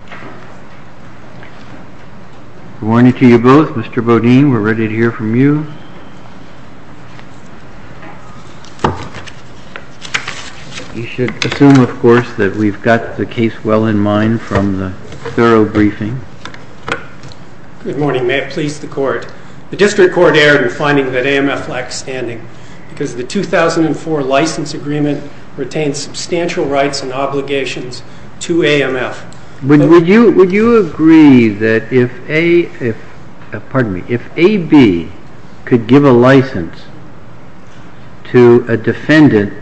We are ready to hear from you, Mr. Boudin, you should assume, of course, that we have got the case well in mind from the thorough briefing. Good morning, may it please the Court. The District Court erred in finding that AMF lacks standing because the 2004 License Agreement retained substantial rights and obligations to AMF. Would you agree that if AB could give a license to a defendant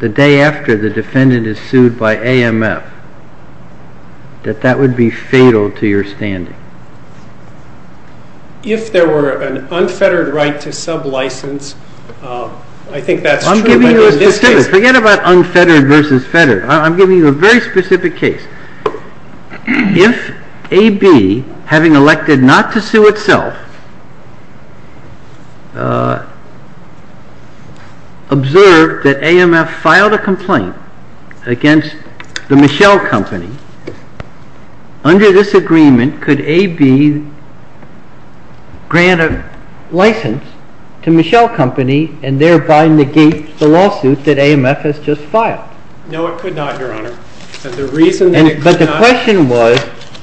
the day after the defendant is sued by AMF, that that would be fatal to your standing? If there were an unfettered right to sub-license, I think that's true, but in this case Forget about unfettered v. fettered, I'm giving you a very specific case. If AB, having elected not to sue itself, observed that AMF filed a complaint against the Michelle Company, under this agreement could AB grant a license to Michelle Company and thereby negate the lawsuit that AMF has just filed? No, it could not, Your Honor. But the question was,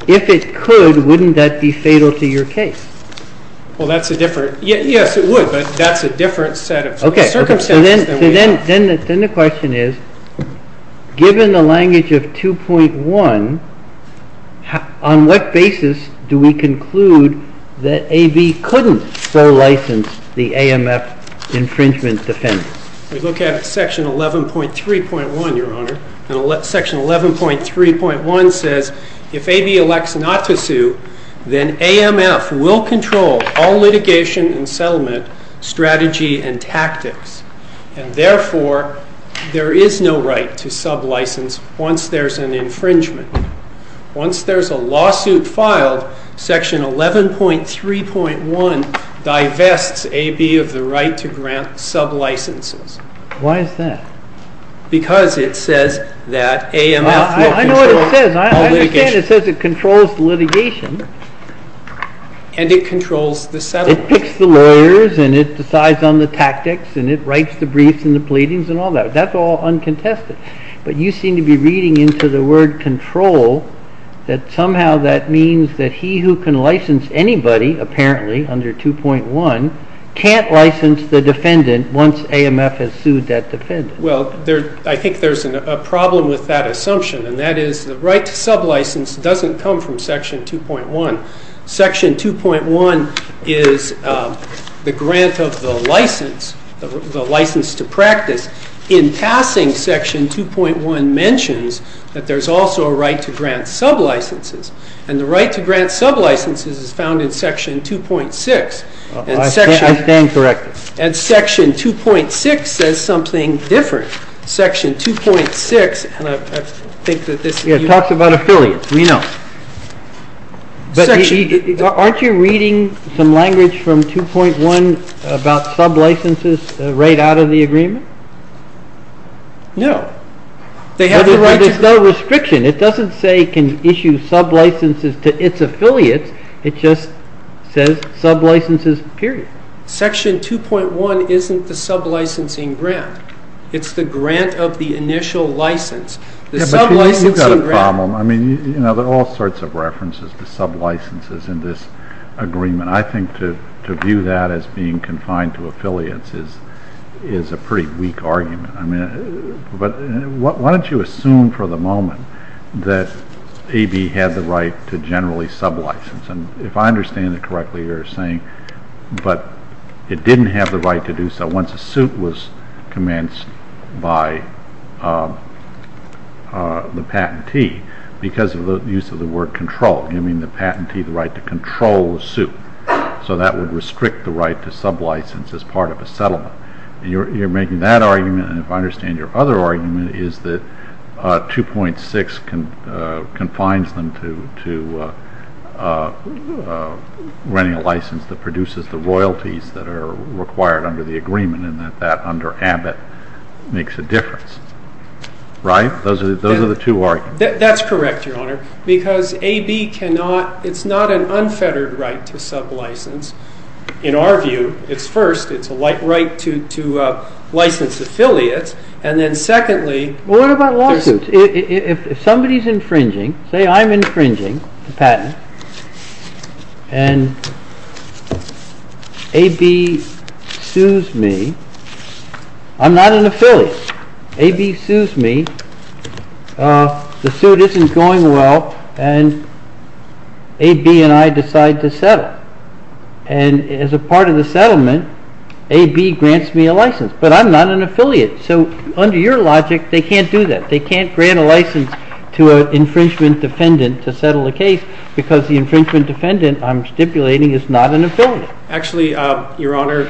if it could, wouldn't that be fatal to your case? Yes, it would, but that's a different set of circumstances. So then the question is, given the language of 2.1, on what basis do we conclude that AB couldn't fore-license the AMF infringement defense? We look at Section 11.3.1, Your Honor, and Section 11.3.1 says, if AB elects not to sue, then AMF will control all litigation and settlement strategy and tactics. And therefore, there is no right to sub-license once there's an infringement. Once there's a lawsuit filed, Section 11.3.1 divests AB of the right to grant sub-licenses. Why is that? Because it says that AMF will control all litigation. I know what it says. I understand it says it controls litigation. And it controls the settlement. It picks the lawyers, and it decides on the tactics, and it writes the briefs and the pleadings and all that. That's all uncontested. But you seem to be reading into the word control that somehow that means that he who can license anybody, apparently, under 2.1, can't license the defendant once AMF has sued that defendant. Well, I think there's a problem with that assumption, and that is the right to sub-license doesn't come from Section 2.1. Section 2.1 is the grant of the license, the license to practice. In passing, Section 2.1 mentions that there's also a right to grant sub-licenses. And the right to grant sub-licenses is found in Section 2.6. I stand corrected. And Section 2.6 says something different. Section 2.6, and I think that this is you. It talks about affiliates. We know. But aren't you reading some language from 2.1 about sub-licenses right out of the agreement? No. There's no restriction. It doesn't say it can issue sub-licenses to its affiliates. It just says sub-licenses, period. Section 2.1 isn't the sub-licensing grant. It's the grant of the initial license. But you've got a problem. I mean, there are all sorts of references to sub-licenses in this agreement. I think to view that as being confined to affiliates is a pretty weak argument. But why don't you assume for the moment that AB had the right to generally sub-license? And if I understand it correctly, you're saying, but it didn't have the right to do so once a suit was commenced by the patentee, because of the use of the word control, giving the patentee the right to control the suit. So that would restrict the right to sub-license as part of a settlement. You're making that argument, and if I understand your other argument, is that 2.6 confines them to running a license that produces the royalties that are required under the agreement, and that that under Abbott makes a difference. Right? Those are the two arguments. That's correct, Your Honor, because AB cannot, it's not an unfettered right to sub-license. In our view, it's first, it's a right to license affiliates, and then secondly- What about license? If somebody's infringing, say I'm infringing the patent, and AB sues me, I'm not an affiliate. AB sues me, the suit isn't going well, and AB and I decide to settle. And as a part of the settlement, AB grants me a license, but I'm not an affiliate. So under your logic, they can't do that. They can't grant a license to an infringement defendant to settle a case, because the infringement defendant, I'm stipulating, is not an affiliate. Actually, Your Honor,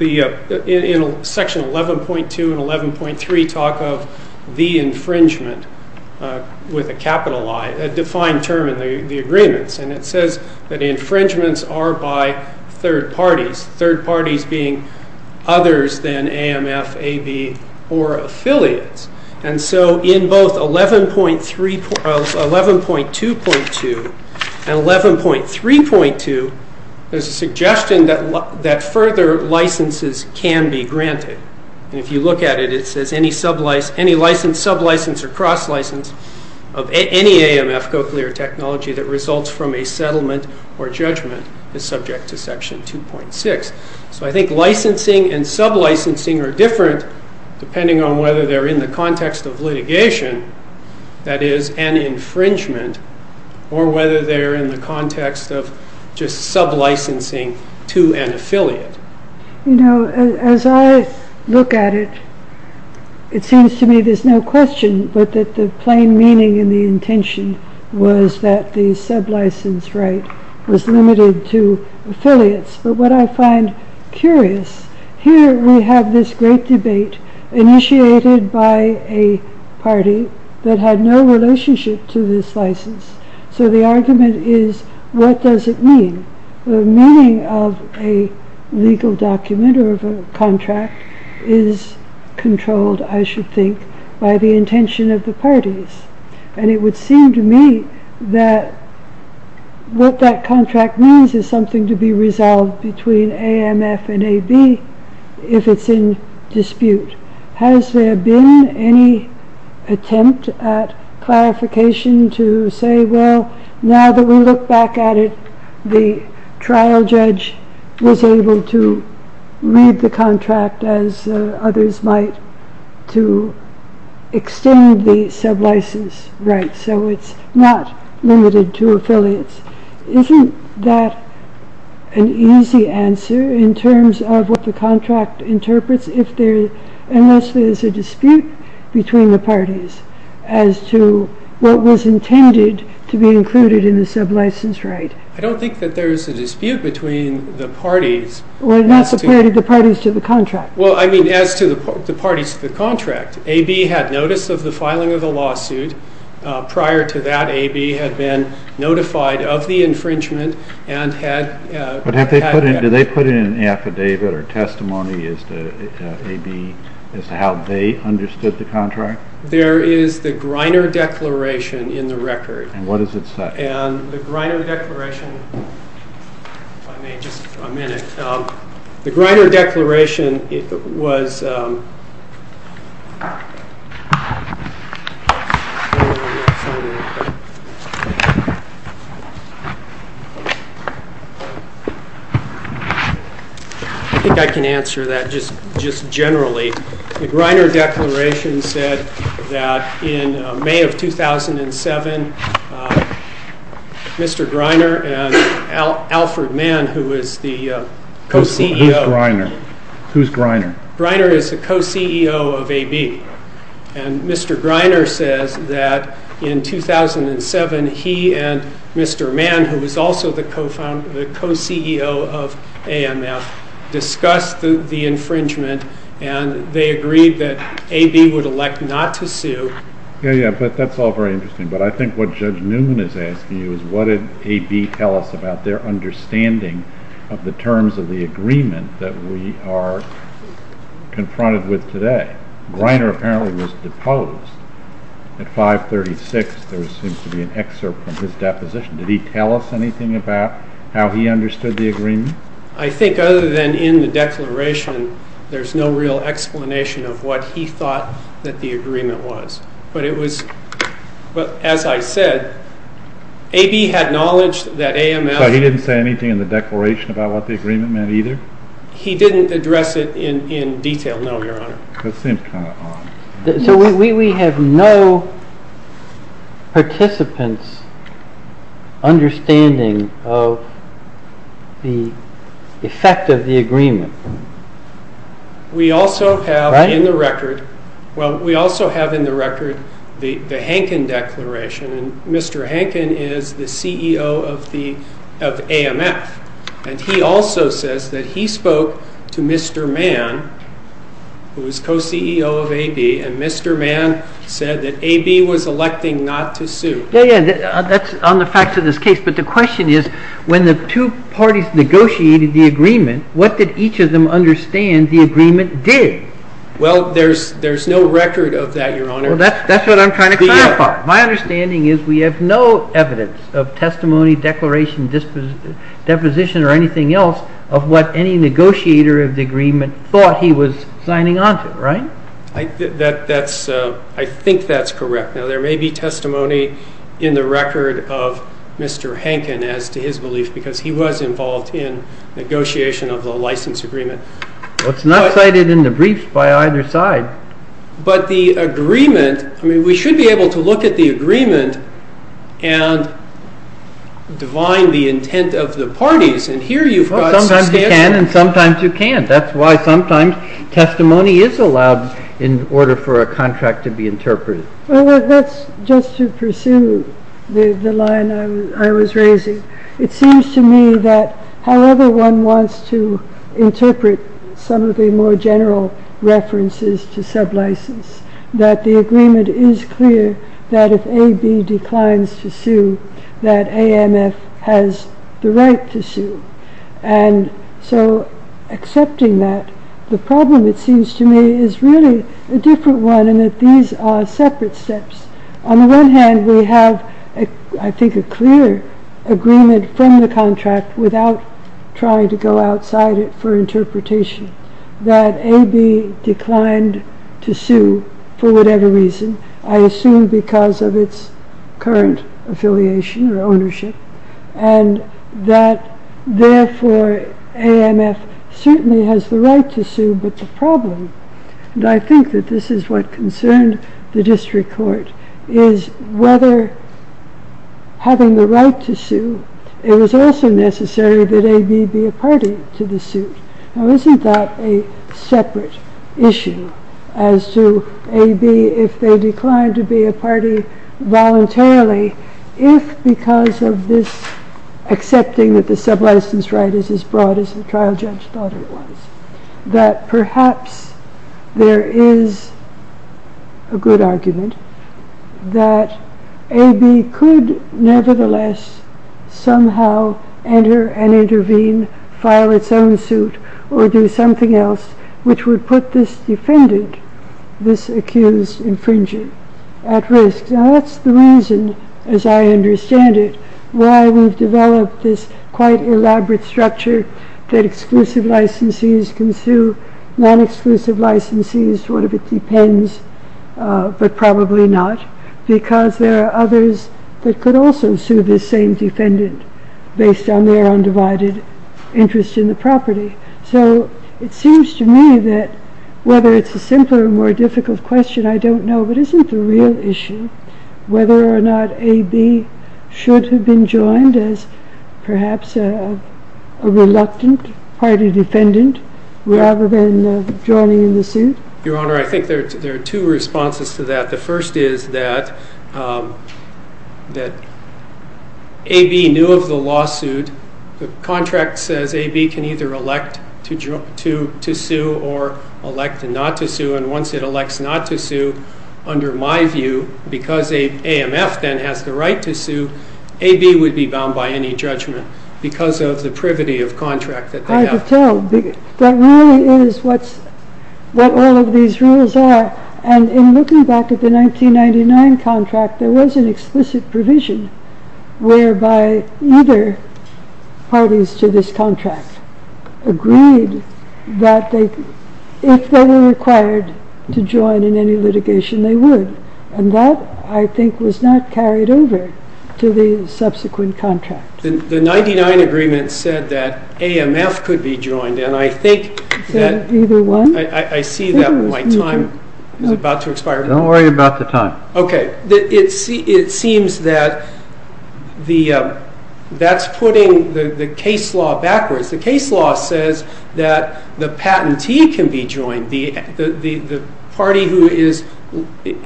in section 11.2 and 11.3 talk of the infringement with a capital I, a defined term in the agreements, and it says that infringements are by third parties, third parties being others than AMF, AB, or affiliates. And so in both 11.2.2 and 11.3.2, there's a suggestion that further licenses can be granted. And if you look at it, it says any license, sub-license, or cross-license of any AMF, Cochlear technology, that results from a settlement or judgment is subject to section 2.6. So I think licensing and sub-licensing are different depending on whether they're in the context of litigation, that is, an infringement, or whether they're in the context of just sub-licensing to an affiliate. You know, as I look at it, it seems to me there's no question but that the plain meaning and the intention was that the sub-license right was limited to affiliates. But what I find curious, here we have this great debate initiated by a party that had no relationship to this license. So the argument is, what does it mean? The meaning of a legal document or of a contract is controlled, I should think, by the intention of the parties. And it would seem to me that what that contract means is something to be resolved between AMF and AB if it's in dispute. Has there been any attempt at clarification to say, well, now that we look back at it, the trial judge was able to read the contract as others might to extend the sub-license right. So it's not limited to affiliates. Isn't that an easy answer in terms of what the contract interprets unless there's a dispute between the parties as to what was intended to be included in the sub-license right? I don't think that there's a dispute between the parties. Well, not the parties to the contract. Well, I mean as to the parties to the contract. AB had notice of the filing of the lawsuit. Prior to that, AB had been notified of the infringement and had- But do they put in an affidavit or testimony as to how they understood the contract? There is the Griner Declaration in the record. And what does it say? And the Griner Declaration- If I may, just a minute. The Griner Declaration was- I think I can answer that just generally. The Griner Declaration said that in May of 2007, Mr. Griner and Alfred Mann, who was the co-CEO- Who's Griner? Griner is the co-CEO of AB. And Mr. Griner says that in 2007, he and Mr. Mann, who was also the co-CEO of AMF, discussed the infringement. And they agreed that AB would elect not to sue. Yeah, yeah, but that's all very interesting. But I think what Judge Newman is asking you is what did AB tell us about their understanding of the terms of the agreement that we are confronted with today? Griner apparently was deposed at 536. There seems to be an excerpt from his deposition. Did he tell us anything about how he understood the agreement? I think other than in the declaration, there's no real explanation of what he thought that the agreement was. But as I said, AB had knowledge that AMF- So he didn't say anything in the declaration about what the agreement meant either? He didn't address it in detail, no, Your Honor. That seems kind of odd. So we have no participant's understanding of the effect of the agreement? We also have in the record the Hankin Declaration. And Mr. Hankin is the CEO of AMF. And he also says that he spoke to Mr. Mann, who is co-CEO of AB, and Mr. Mann said that AB was electing not to sue. Yeah, yeah, that's on the facts of this case. But the question is when the two parties negotiated the agreement, what did each of them understand the agreement did? Well, there's no record of that, Your Honor. Well, that's what I'm trying to clarify. My understanding is we have no evidence of testimony, declaration, disposition, or anything else of what any negotiator of the agreement thought he was signing onto, right? I think that's correct. Now, there may be testimony in the record of Mr. Hankin as to his belief because he was involved in negotiation of the license agreement. Well, it's not cited in the briefs by either side. But the agreement, I mean, we should be able to look at the agreement and divine the intent of the parties. And here you've got some standards. Sometimes you can and sometimes you can't. That's why sometimes testimony is allowed in order for a contract to be interpreted. Well, that's just to pursue the line I was raising. It seems to me that however one wants to interpret some of the more general references to sublicense, that the agreement is clear that if AB declines to sue, that AMF has the right to sue. And so accepting that, the problem, it seems to me, is really a different one in that these are separate steps. On the one hand, we have, I think, a clear agreement from the contract without trying to go outside it for interpretation that AB declined to sue for whatever reason, I assume because of its current affiliation or ownership, and that therefore AMF certainly has the right to sue. But the problem, and I think that this is what concerned the district court, is whether having the right to sue, it was also necessary that AB be a party to the suit. Now isn't that a separate issue as to AB, if they declined to be a party voluntarily, if because of this accepting that the sublicense right is as broad as the trial judge thought it was, that perhaps there is a good argument that AB could nevertheless somehow enter and intervene, file its own suit, or do something else which would put this defendant, this accused infringer, at risk. Now that's the reason, as I understand it, why we've developed this quite elaborate structure that exclusive licensees can sue, non-exclusive licensees, what if it depends, but probably not, because there are others that could also sue this same defendant based on their undivided interest in the property. So it seems to me that whether it's a simpler or more difficult question, I don't know, but isn't the real issue whether or not AB should have been joined as perhaps a reluctant party defendant rather than joining in the suit? I can tell you that really is what all of these rules are, and in looking back at the 1999 contract, there was an explicit provision whereby either party is to this contract agreed, that if they were required to join in any litigation they would, and that I think was not carried over to the subsequent contract. The 99 agreement said that AMF could be joined, and I think that I see that my time is about to expire. Don't worry about the time. Okay, it seems that that's putting the case law backwards. The case law says that the patentee can be joined, the party who is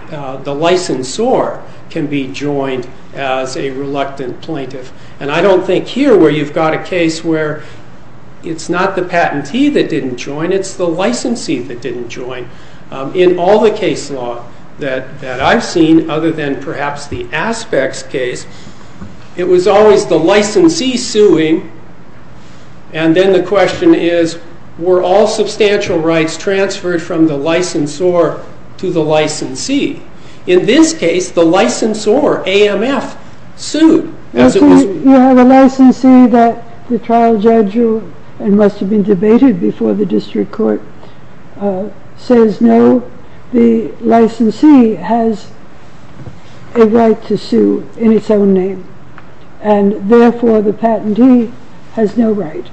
the licensor can be joined as a reluctant plaintiff, and I don't think here where you've got a case where it's not the patentee that didn't join, it's the licensee that didn't join. In all the case law that I've seen, other than perhaps the Aspects case, it was always the licensee suing, and then the question is, were all substantial rights transferred from the licensor to the licensee? In this case, the licensor, AMF, sued. You have a licensee that the trial judge, and must have been debated before the district court, says no, the licensee has a right to sue in its own name, and therefore the patentee has no right.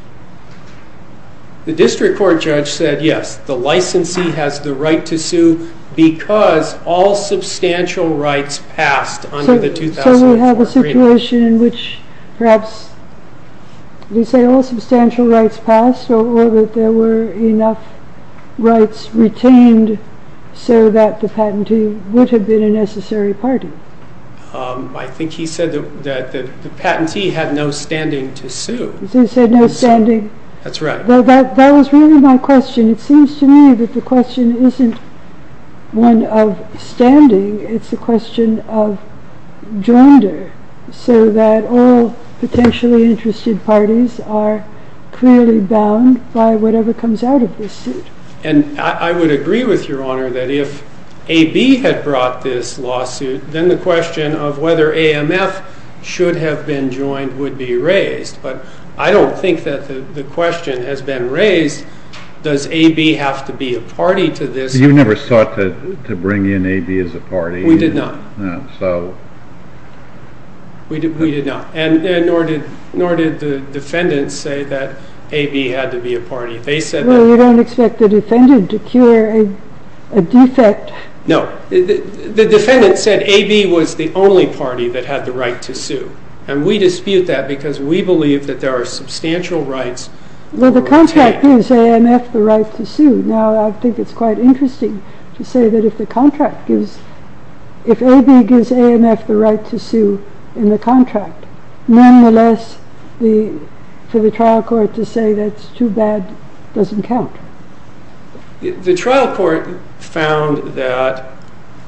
The district court judge said yes, the licensee has the right to sue because all substantial rights passed under the 2004 agreement. Is that the situation in which perhaps they say all substantial rights passed, or that there were enough rights retained so that the patentee would have been a necessary party? I think he said that the patentee had no standing to sue. He said no standing? That's right. That was really my question. It seems to me that the question isn't one of standing. It's the question of joinder, so that all potentially interested parties are clearly bound by whatever comes out of this suit. And I would agree with Your Honor that if AB had brought this lawsuit, then the question of whether AMF should have been joined would be raised. But I don't think that the question has been raised, does AB have to be a party to this? You never sought to bring in AB as a party? We did not. We did not. And nor did the defendants say that AB had to be a party. Well, you don't expect the defendant to cure a defect. No. The defendant said AB was the only party that had the right to sue. And we dispute that because we believe that there are substantial rights. Well, the contract gives AMF the right to sue. Now, I think it's quite interesting to say that if AB gives AMF the right to sue in the contract, nonetheless, for the trial court to say that's too bad doesn't count. The trial court found that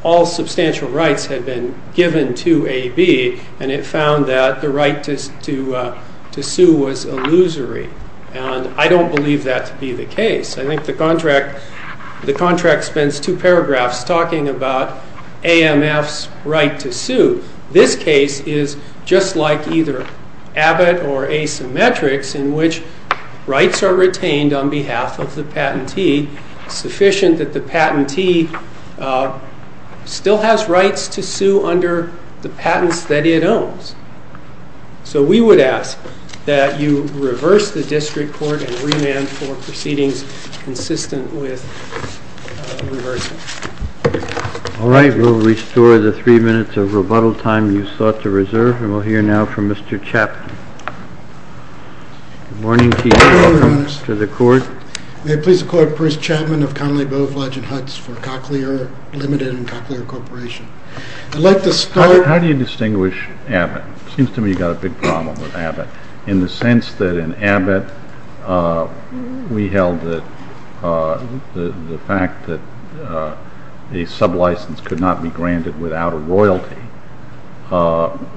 all substantial rights had been given to AB, and it found that the right to sue was illusory. And I don't believe that to be the case. I think the contract spends two paragraphs talking about AMF's right to sue. This case is just like either Abbott or Asymmetrics in which rights are retained on behalf of the patentee, sufficient that the patentee still has rights to sue under the patents that it owns. So we would ask that you reverse the district court and remand for proceedings consistent with reversing. All right, we'll restore the three minutes of rebuttal time you sought to reserve, and we'll hear now from Mr. Chapman. Good morning, Chief. Good morning, Your Honors. Welcome to the court. May it please the Court, Bruce Chapman of Connelly Boeve Lodge and Huts for Cochlear Limited and Cochlear Corporation. I'd like to start- How do you distinguish Abbott? It seems to me you've got a big problem with Abbott, in the sense that in Abbott we held that the fact that a sublicense could not be granted without a royalty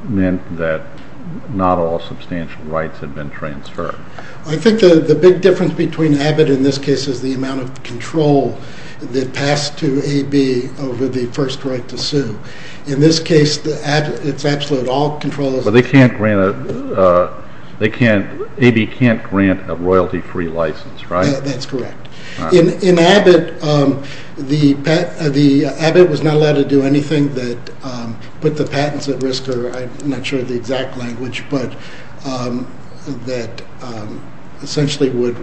meant that not all substantial rights had been transferred. I think the big difference between Abbott in this case is the amount of control that passed to AB over the first right to sue. In this case, it's absolute, all control is- So AB can't grant a royalty-free license, right? That's correct. In Abbott, Abbott was not allowed to do anything that put the patents at risk, or I'm not sure of the exact language, but that essentially would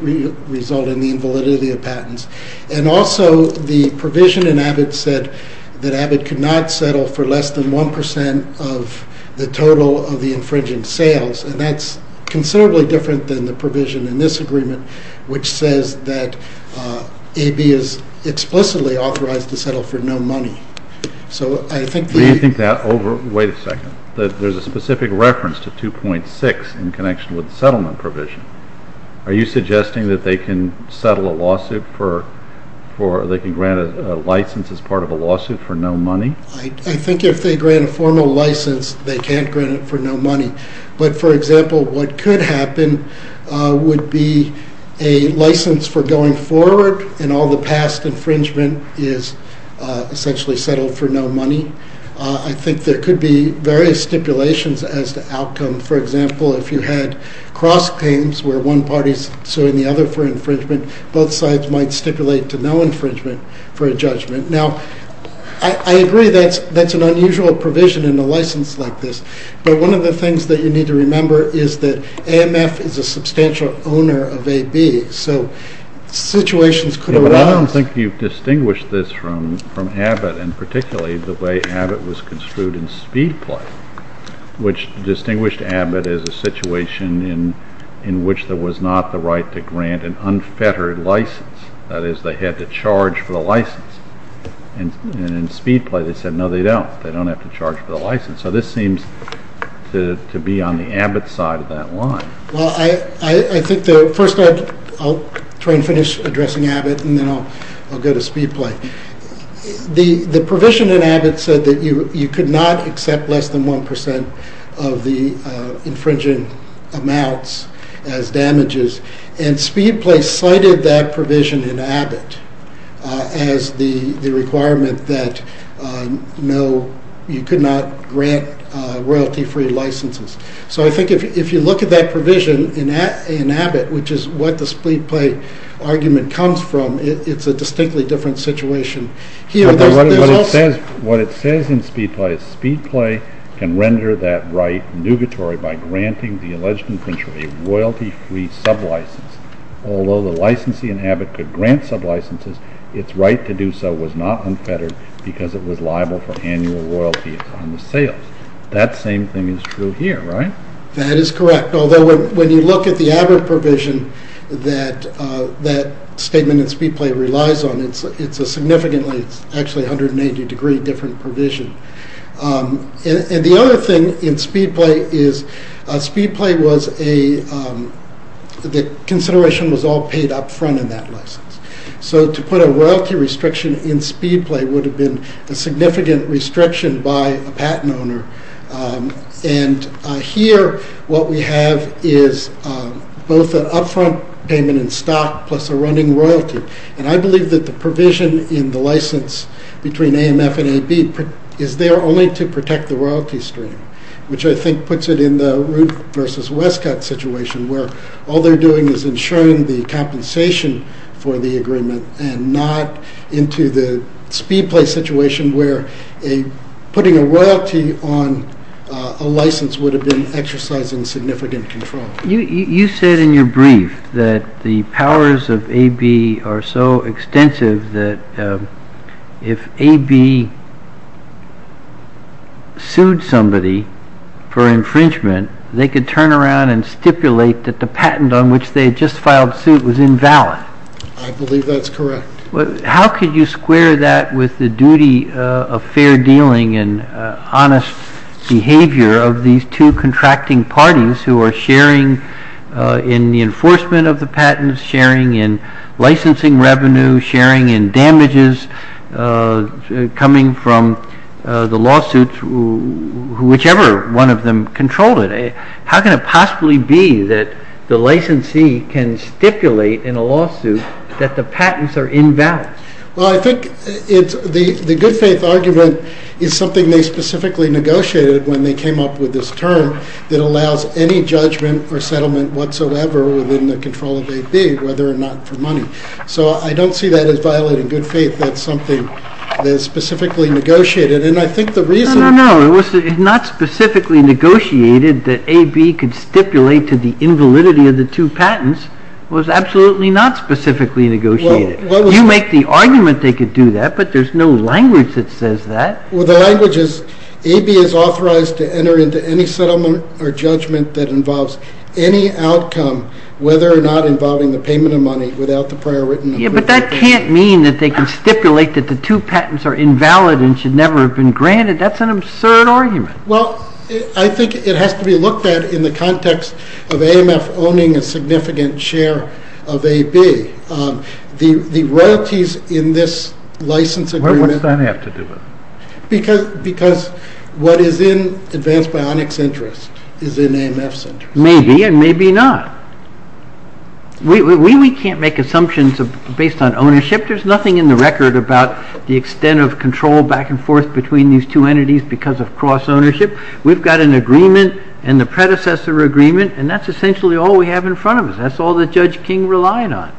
result in the invalidity of patents. And also the provision in Abbott said that Abbott could not settle for less than 1% of the total of the infringing sales, and that's considerably different than the provision in this agreement, which says that AB is explicitly authorized to settle for no money. So I think that- Wait a second. There's a specific reference to 2.6 in connection with the settlement provision. Are you suggesting that they can settle a lawsuit for- they can grant a license as part of a lawsuit for no money? I think if they grant a formal license, they can't grant it for no money. But, for example, what could happen would be a license for going forward, and all the past infringement is essentially settled for no money. I think there could be various stipulations as to outcome. For example, if you had cross claims where one party's suing the other for infringement, both sides might stipulate to no infringement for a judgment. Now, I agree that's an unusual provision in a license like this, but one of the things that you need to remember is that AMF is a substantial owner of AB, so situations could arise- Yeah, but I don't think you've distinguished this from Abbott, and particularly the way Abbott was construed in Speedplay, which distinguished Abbott as a situation in which there was not the right to grant an unfettered license. That is, they had to charge for the license. And in Speedplay, they said, no, they don't. They don't have to charge for the license. So this seems to be on the Abbott side of that line. Well, I think the- first, I'll try and finish addressing Abbott, and then I'll go to Speedplay. The provision in Abbott said that you could not accept less than 1% of the infringing amounts as damages, and Speedplay cited that provision in Abbott as the requirement that, no, you could not grant royalty-free licenses. So I think if you look at that provision in Abbott, which is what the Speedplay argument comes from, it's a distinctly different situation. What it says in Speedplay is Speedplay can render that right nugatory by granting the alleged infringer a royalty-free sublicense. Although the licensee in Abbott could grant sublicenses, its right to do so was not unfettered because it was liable for annual royalties on the sale. That same thing is true here, right? That is correct. Although when you look at the Abbott provision that that statement in Speedplay relies on, it's a significantly- it's actually 180-degree different provision. And the other thing in Speedplay is Speedplay was a- the consideration was all paid up front in that license. So to put a royalty restriction in Speedplay would have been a significant restriction by a patent owner. And here what we have is both an up-front payment in stock plus a running royalty. And I believe that the provision in the license between AMF and AB is there only to protect the royalty stream, which I think puts it in the Ruth versus Westcott situation, where all they're doing is ensuring the compensation for the agreement and not into the Speedplay situation where putting a royalty on a license would have been exercising significant control. You said in your brief that the powers of AB are so extensive that if AB sued somebody for infringement, they could turn around and stipulate that the patent on which they had just filed suit was invalid. I believe that's correct. How could you square that with the duty of fair dealing and honest behavior of these two contracting parties who are sharing in the enforcement of the patents, sharing in licensing revenue, sharing in damages coming from the lawsuits, whichever one of them controlled it? How can it possibly be that the licensee can stipulate in a lawsuit that the patents are invalid? Well, I think the good faith argument is something they specifically negotiated when they came up with this term that allows any judgment or settlement whatsoever within the control of AB, whether or not for money. So I don't see that as violating good faith. That's something that is specifically negotiated. No, no, no. It's not specifically negotiated that AB could stipulate to the invalidity of the two patents. It was absolutely not specifically negotiated. You make the argument they could do that, but there's no language that says that. Well, the language is AB is authorized to enter into any settlement or judgment that involves any outcome, whether or not involving the payment of money, without the prior written approval. But that can't mean that they can stipulate that the two patents are invalid and should never have been granted. That's an absurd argument. Well, I think it has to be looked at in the context of AMF owning a significant share of AB. The royalties in this license agreement... Why does that have to do with it? Because what is in Advanced Bionics' interest is in AMF's interest. Maybe and maybe not. We can't make assumptions based on ownership. There's nothing in the record about the extent of control back and forth between these two entities because of cross-ownership. We've got an agreement and the predecessor agreement, and that's essentially all we have in front of us. That's all that Judge King relied on.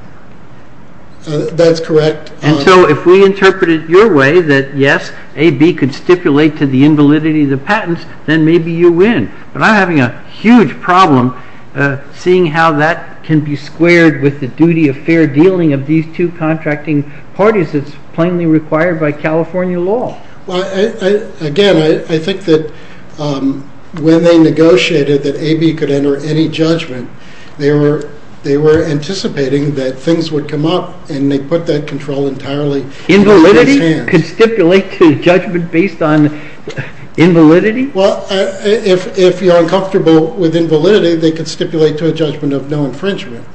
That's correct. And so if we interpret it your way that, yes, AB could stipulate to the invalidity of the patents, then maybe you win. But I'm having a huge problem seeing how that can be squared with the duty of fair dealing of these two contracting parties that's plainly required by California law. Well, again, I think that when they negotiated that AB could enter any judgment, they were anticipating that things would come up, and they put that control entirely into his hands. Invalidity? Constipulate to judgment based on invalidity? Well, if you're uncomfortable with invalidity, they could stipulate to a judgment of no infringement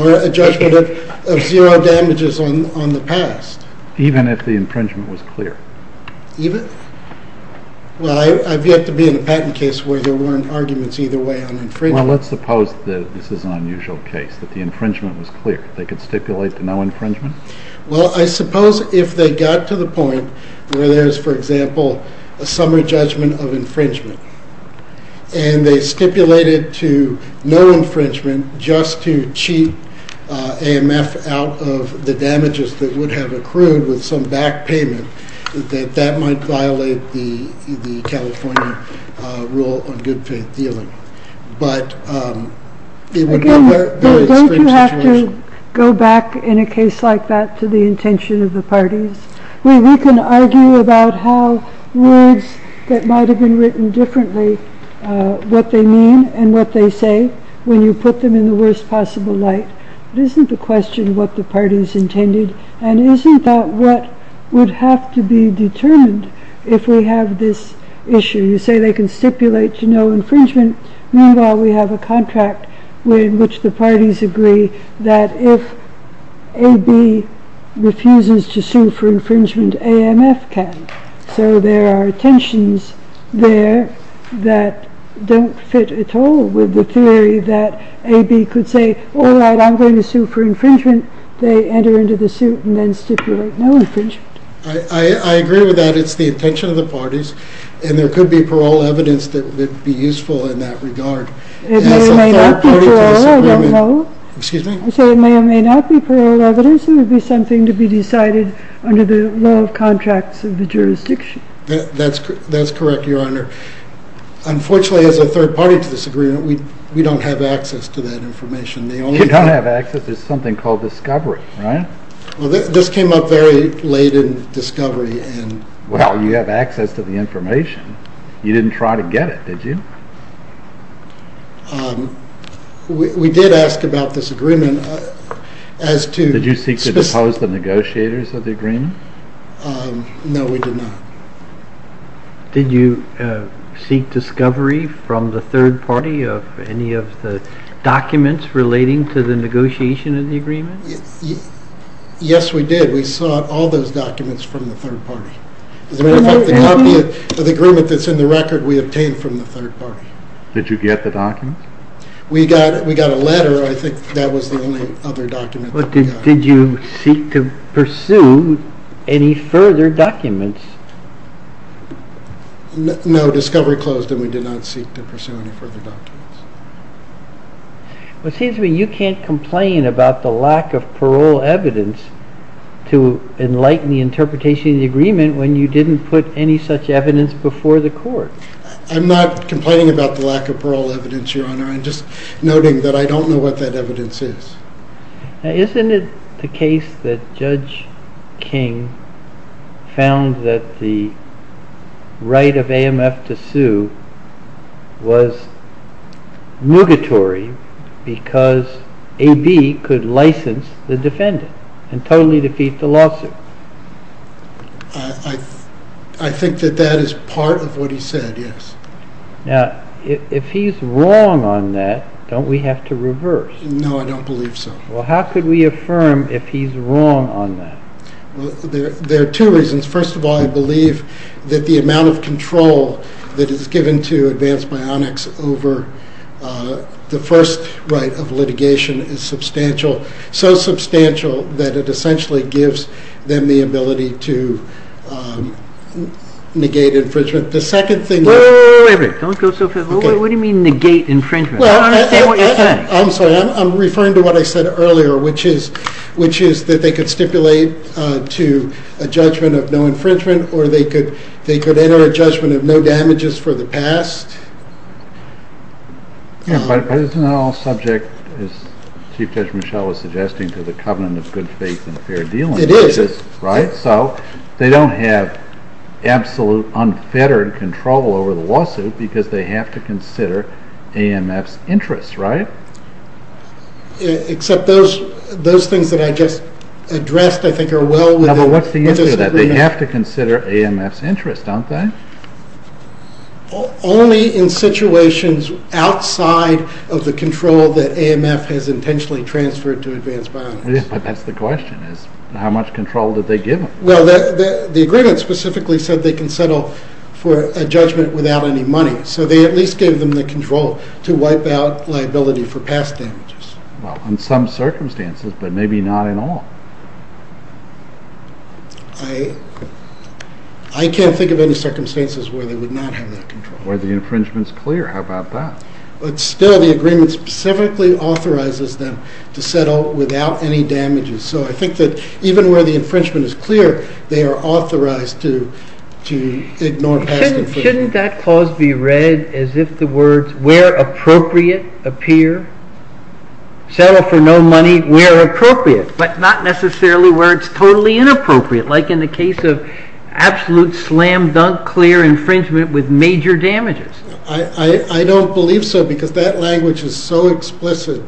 or a judgment of zero damages on the past. Even if the infringement was clear? Well, I've yet to be in a patent case where there weren't arguments either way on infringement. Well, let's suppose that this is an unusual case, that the infringement was clear. They could stipulate to no infringement? Well, I suppose if they got to the point where there's, for example, a summary judgment of infringement, and they stipulated to no infringement just to cheat AMF out of the damages that would have accrued with some back payment, that that might violate the California rule on good faith dealing. Again, don't you have to go back in a case like that to the intention of the parties? We can argue about how words that might have been written differently, what they mean and what they say, when you put them in the worst possible light, but isn't the question what the parties intended? And isn't that what would have to be determined if we have this issue? You say they can stipulate to no infringement. Meanwhile, we have a contract in which the parties agree that if AB refuses to sue for infringement, AMF can. So there are tensions there that don't fit at all with the theory that AB could say, all right, I'm going to sue for infringement. They enter into the suit and then stipulate no infringement. I agree with that. It's the intention of the parties, and there could be parole evidence that would be useful in that regard. It may or may not be parole, I don't know. Excuse me? You say it may or may not be parole evidence. It would be something to be decided under the law of contracts of the jurisdiction. That's correct, Your Honor. Unfortunately, as a third party to this agreement, we don't have access to that information. You don't have access to something called discovery, right? This came up very late in discovery. Well, you have access to the information. You didn't try to get it, did you? We did ask about this agreement as to- Did you seek to depose the negotiators of the agreement? No, we did not. Did you seek discovery from the third party of any of the documents relating to the negotiation of the agreement? Yes, we did. We sought all those documents from the third party. As a matter of fact, the agreement that's in the record, we obtained from the third party. Did you get the documents? We got a letter. I think that was the only other document that we got. Did you seek to pursue any further documents? No, discovery closed, and we did not seek to pursue any further documents. It seems to me you can't complain about the lack of parole evidence to enlighten the interpretation of the agreement when you didn't put any such evidence before the court. I'm not complaining about the lack of parole evidence, Your Honor. I'm just noting that I don't know what that evidence is. Now, isn't it the case that Judge King found that the right of AMF to sue was mugatory because AB could license the defendant and totally defeat the lawsuit? I think that that is part of what he said, yes. Now, if he's wrong on that, don't we have to reverse? No, I don't believe so. Well, how could we affirm if he's wrong on that? Well, there are two reasons. First of all, I believe that the amount of control that is given to Advanced Bionics over the first right of litigation is substantial, so substantial that it essentially gives them the ability to negate infringement. The second thing… Wait, wait, wait. Don't go so fast. What do you mean negate infringement? I don't understand what you're saying. I'm sorry. I'm referring to what I said earlier, which is that they could stipulate to a judgment of no infringement, or they could enter a judgment of no damages for the past. Yeah, but isn't that all subject, as Chief Judge Michel was suggesting, to the covenant of good faith and fair dealing? It is. Right? They don't have absolute unfettered control over the lawsuit because they have to consider AMF's interests, right? Except those things that I just addressed, I think, are well within disagreement. No, but what's the issue with that? They have to consider AMF's interests, don't they? Only in situations outside of the control that AMF has intentionally transferred to Advanced Bionics. Yeah, but that's the question. How much control did they give them? Well, the agreement specifically said they can settle for a judgment without any money, so they at least gave them the control to wipe out liability for past damages. Well, in some circumstances, but maybe not in all. I can't think of any circumstances where they would not have that control. Where the infringement's clear. How about that? But still, the agreement specifically authorizes them to settle without any damages, so I think that even where the infringement is clear, they are authorized to ignore past infringements. Shouldn't that clause be read as if the words, where appropriate, appear? Settle for no money where appropriate, but not necessarily where it's totally inappropriate, like in the case of absolute slam-dunk clear infringement with major damages. I don't believe so, because that language is so explicit.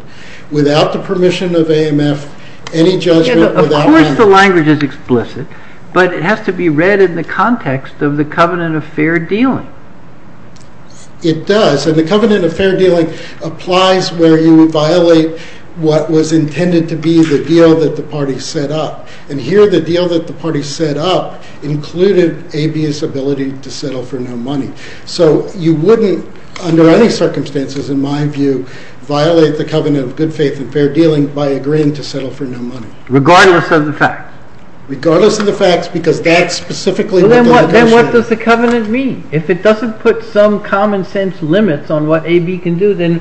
Without the permission of AMF, any judgment without money... Of course the language is explicit, but it has to be read in the context of the covenant of fair dealing. It does, and the covenant of fair dealing applies where you violate what was intended to be the deal that the party set up. And here the deal that the party set up included AB's ability to settle for no money. So you wouldn't, under any circumstances in my view, violate the covenant of good faith and fair dealing by agreeing to settle for no money. Regardless of the facts? Regardless of the facts, because that's specifically what the legislation is. Then what does the covenant mean? If it doesn't put some common sense limits on what AB can do, then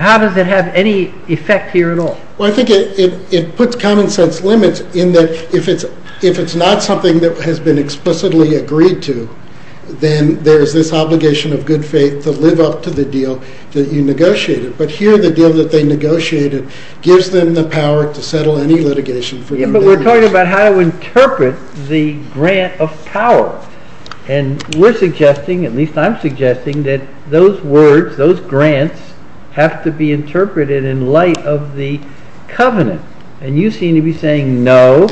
how does it have any effect here at all? I think it puts common sense limits in that if it's not something that has been explicitly agreed to, then there's this obligation of good faith to live up to the deal that you negotiated. But here the deal that they negotiated gives them the power to settle any litigation for no money. But we're talking about how to interpret the grant of power. And we're suggesting, at least I'm suggesting, that those words, those grants, have to be interpreted in light of the covenant. And you seem to be saying no,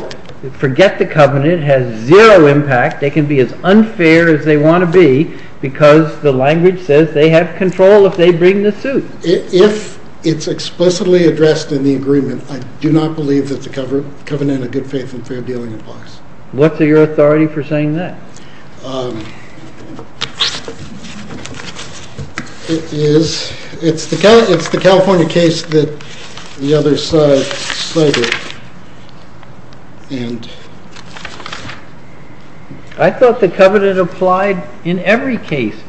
forget the covenant, it has zero impact, they can be as unfair as they want to be, because the language says they have control if they bring the suit. If it's explicitly addressed in the agreement, I do not believe that the covenant of good faith and fair dealing applies. What's your authority for saying that? It's the California case that the other side cited. I thought the covenant applied in every case,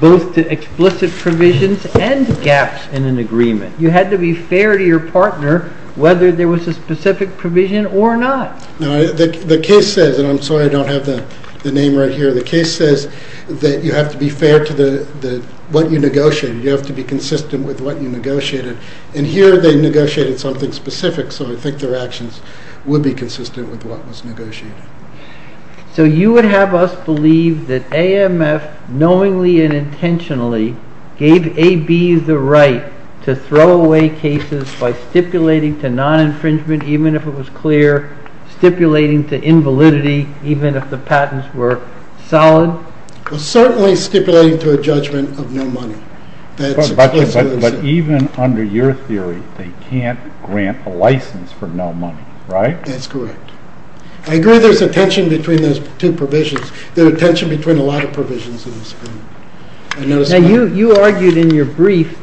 both to explicit provisions and gaps in an agreement. You had to be fair to your partner whether there was a specific provision or not. The case says, and I'm sorry I don't have the name right here, the case says that you have to be fair to what you negotiated, you have to be consistent with what you negotiated. And here they negotiated something specific, so I think their actions would be consistent with what was negotiated. So you would have us believe that AMF knowingly and intentionally gave AB the right to throw away cases by stipulating to non-infringement even if it was clear, stipulating to invalidity even if the patents were solid? Certainly stipulating to a judgment of no money. But even under your theory, they can't grant a license for no money, right? That's correct. I agree there's a tension between those two provisions. There's a tension between a lot of provisions in this agreement. You argued in your brief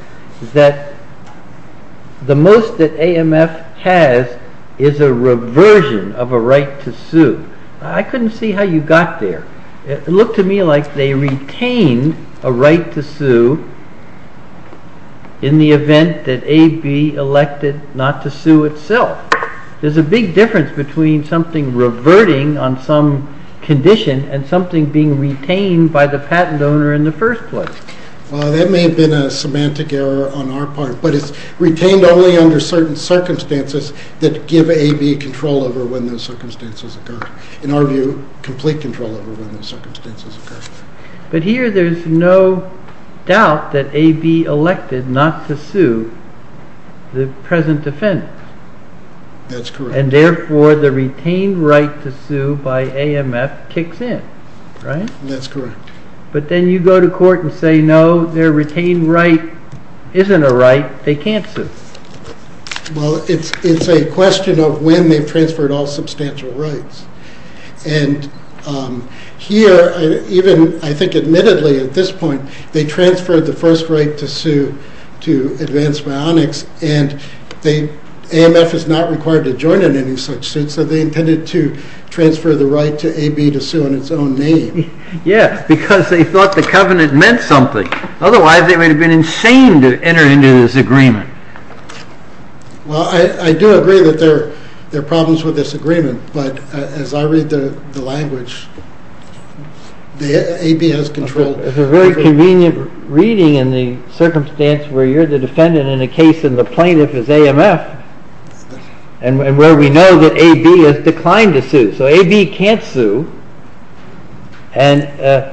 that the most that AMF has is a reversion of a right to sue. I couldn't see how you got there. It looked to me like they retained a right to sue in the event that AB elected not to sue itself. There's a big difference between something reverting on some condition and something being retained by the patent owner in the first place. That may have been a semantic error on our part, but it's retained only under certain circumstances that give AB control over when those circumstances occur. In our view, complete control over when those circumstances occur. But here, there's no doubt that AB elected not to sue the present defendant. That's correct. And therefore, the retained right to sue by AMF kicks in, right? That's correct. But then you go to court and say, no, their retained right isn't a right. They can't sue. Well, it's a question of when they've transferred all substantial rights. And here, even I think admittedly at this point, they transferred the first right to sue to Advance Bionics, and AMF is not required to join in any such suit, so they intended to transfer the right to AB to sue in its own name. Yeah, because they thought the covenant meant something. Otherwise, they would have been insane to enter into this agreement. Well, I do agree that there are problems with this agreement, but as I read the language, AB has control. It's a very convenient reading in the circumstance where you're the defendant in a case and the plaintiff is AMF, and where we know that AB has declined to sue. So AB can't sue, and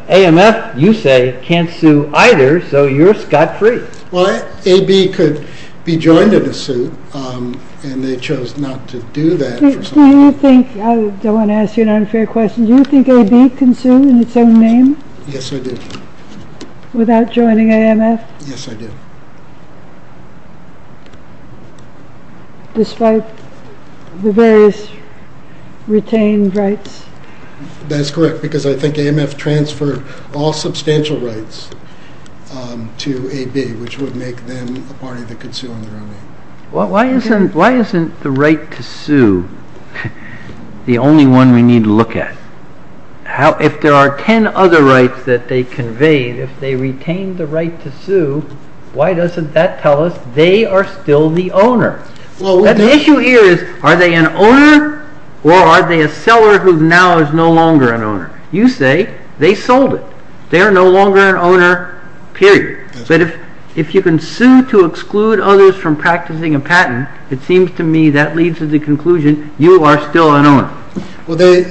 AMF, you say, can't sue either, so you're scot-free. Well, AB could be joined in a suit, and they chose not to do that. I want to ask you an unfair question. Do you think AB can sue in its own name? Yes, I do. Without joining AMF? Yes, I do. Despite the various retained rights? That's correct, because I think AMF transferred all substantial rights to AB, which would make them a party that could sue in their own name. Why isn't the right to sue the only one we need to look at? If there are ten other rights that they conveyed, if they retained the right to sue, why doesn't that tell us they are still the owner? The issue here is, are they an owner, or are they a seller who now is no longer an owner? You say they sold it. They are no longer an owner, period. But if you can sue to exclude others from practicing a patent, it seems to me that leads to the conclusion you are still an owner. Well, they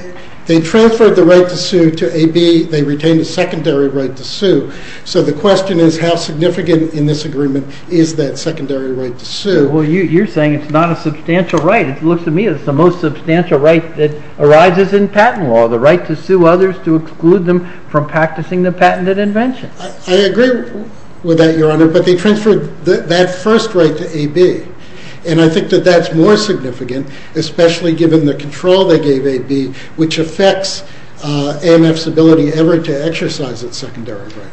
transferred the right to sue to AB. They retained a secondary right to sue. So the question is, how significant in this agreement is that secondary right to sue? Well, you're saying it's not a substantial right. It looks to me as the most substantial right that arises in patent law, the right to sue others to exclude them from practicing the patented invention. I agree with that, Your Honor, but they transferred that first right to AB. And I think that that's more significant, especially given the control they gave AB, which affects AMF's ability ever to exercise its secondary right.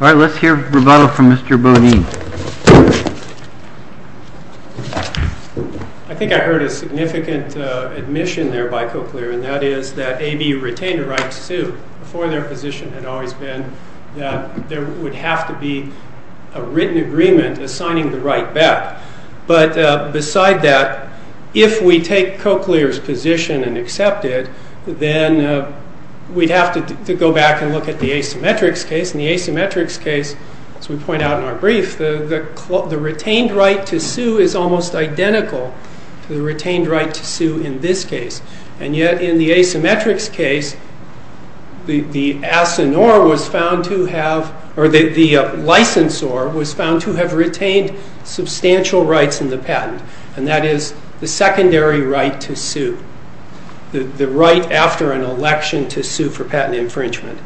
All right, let's hear rebuttal from Mr. Bodine. I think I heard a significant admission there by Cochlear, and that is that AB retained a right to sue before their position had always been that there would have to be a written agreement assigning the right back. But beside that, if we take Cochlear's position and accept it, then we'd have to go back and look at the asymmetrics case. In the asymmetrics case, as we point out in our brief, the retained right to sue is almost identical to the retained right to sue in this case. And yet in the asymmetrics case, the licensor was found to have retained substantial rights in the patent, and that is the secondary right to sue, the right after an election to sue for patent infringement.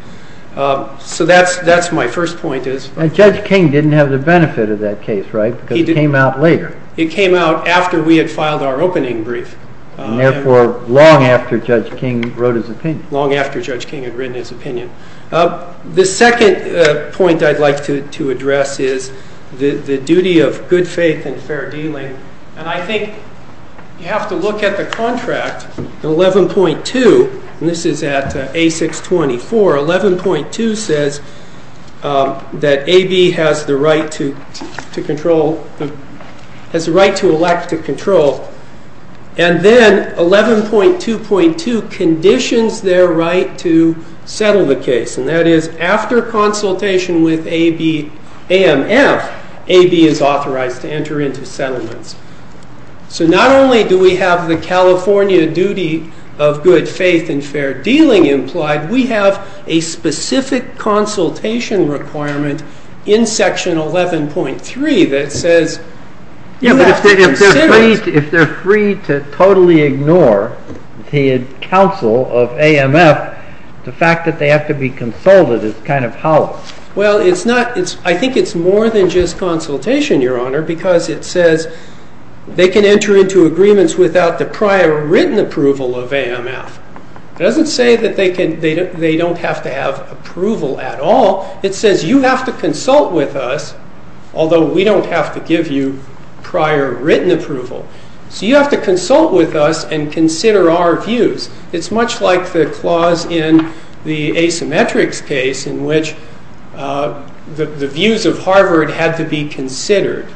So that's my first point. And Judge King didn't have the benefit of that case, right, because it came out later. It came out after we had filed our opening brief. And therefore, long after Judge King wrote his opinion. Long after Judge King had written his opinion. The second point I'd like to address is the duty of good faith and fair dealing. And I think you have to look at the contract, 11.2, and this is at A624. 11.2 says that AB has the right to elect to control. And then 11.2.2 conditions their right to settle the case. And that is after consultation with AMF, AB is authorized to enter into settlements. So not only do we have the California duty of good faith and fair dealing implied, we have a specific consultation requirement in Section 11.3 that says you have to settle. If they're free to totally ignore the counsel of AMF, the fact that they have to be consulted is kind of hollow. Well, it's not. I think it's more than just consultation, Your Honor, because it says they can enter into agreements without the prior written approval of AMF. It doesn't say that they don't have to have approval at all. It says you have to consult with us, although we don't have to give you prior written approval. So you have to consult with us and consider our views. It's much like the clause in the asymmetrics case in which the views of Harvard had to be considered.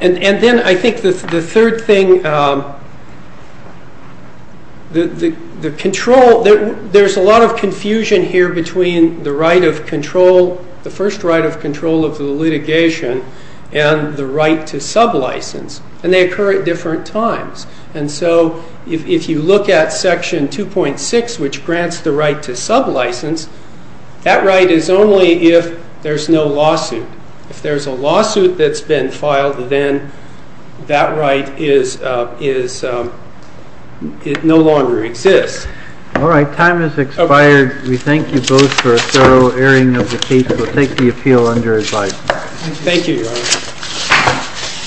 And then I think the third thing, the control, there's a lot of confusion here between the right of control, the first right of control of the litigation and the right to sub license. And they occur at different times. And so if you look at Section 2.6, which grants the right to sub license, that right is only if there's no lawsuit. If there's a lawsuit that's been filed, then that right no longer exists. All right, time has expired. We thank you both for a thorough airing of the case. We'll take the appeal under advice. Thank you, Your Honor.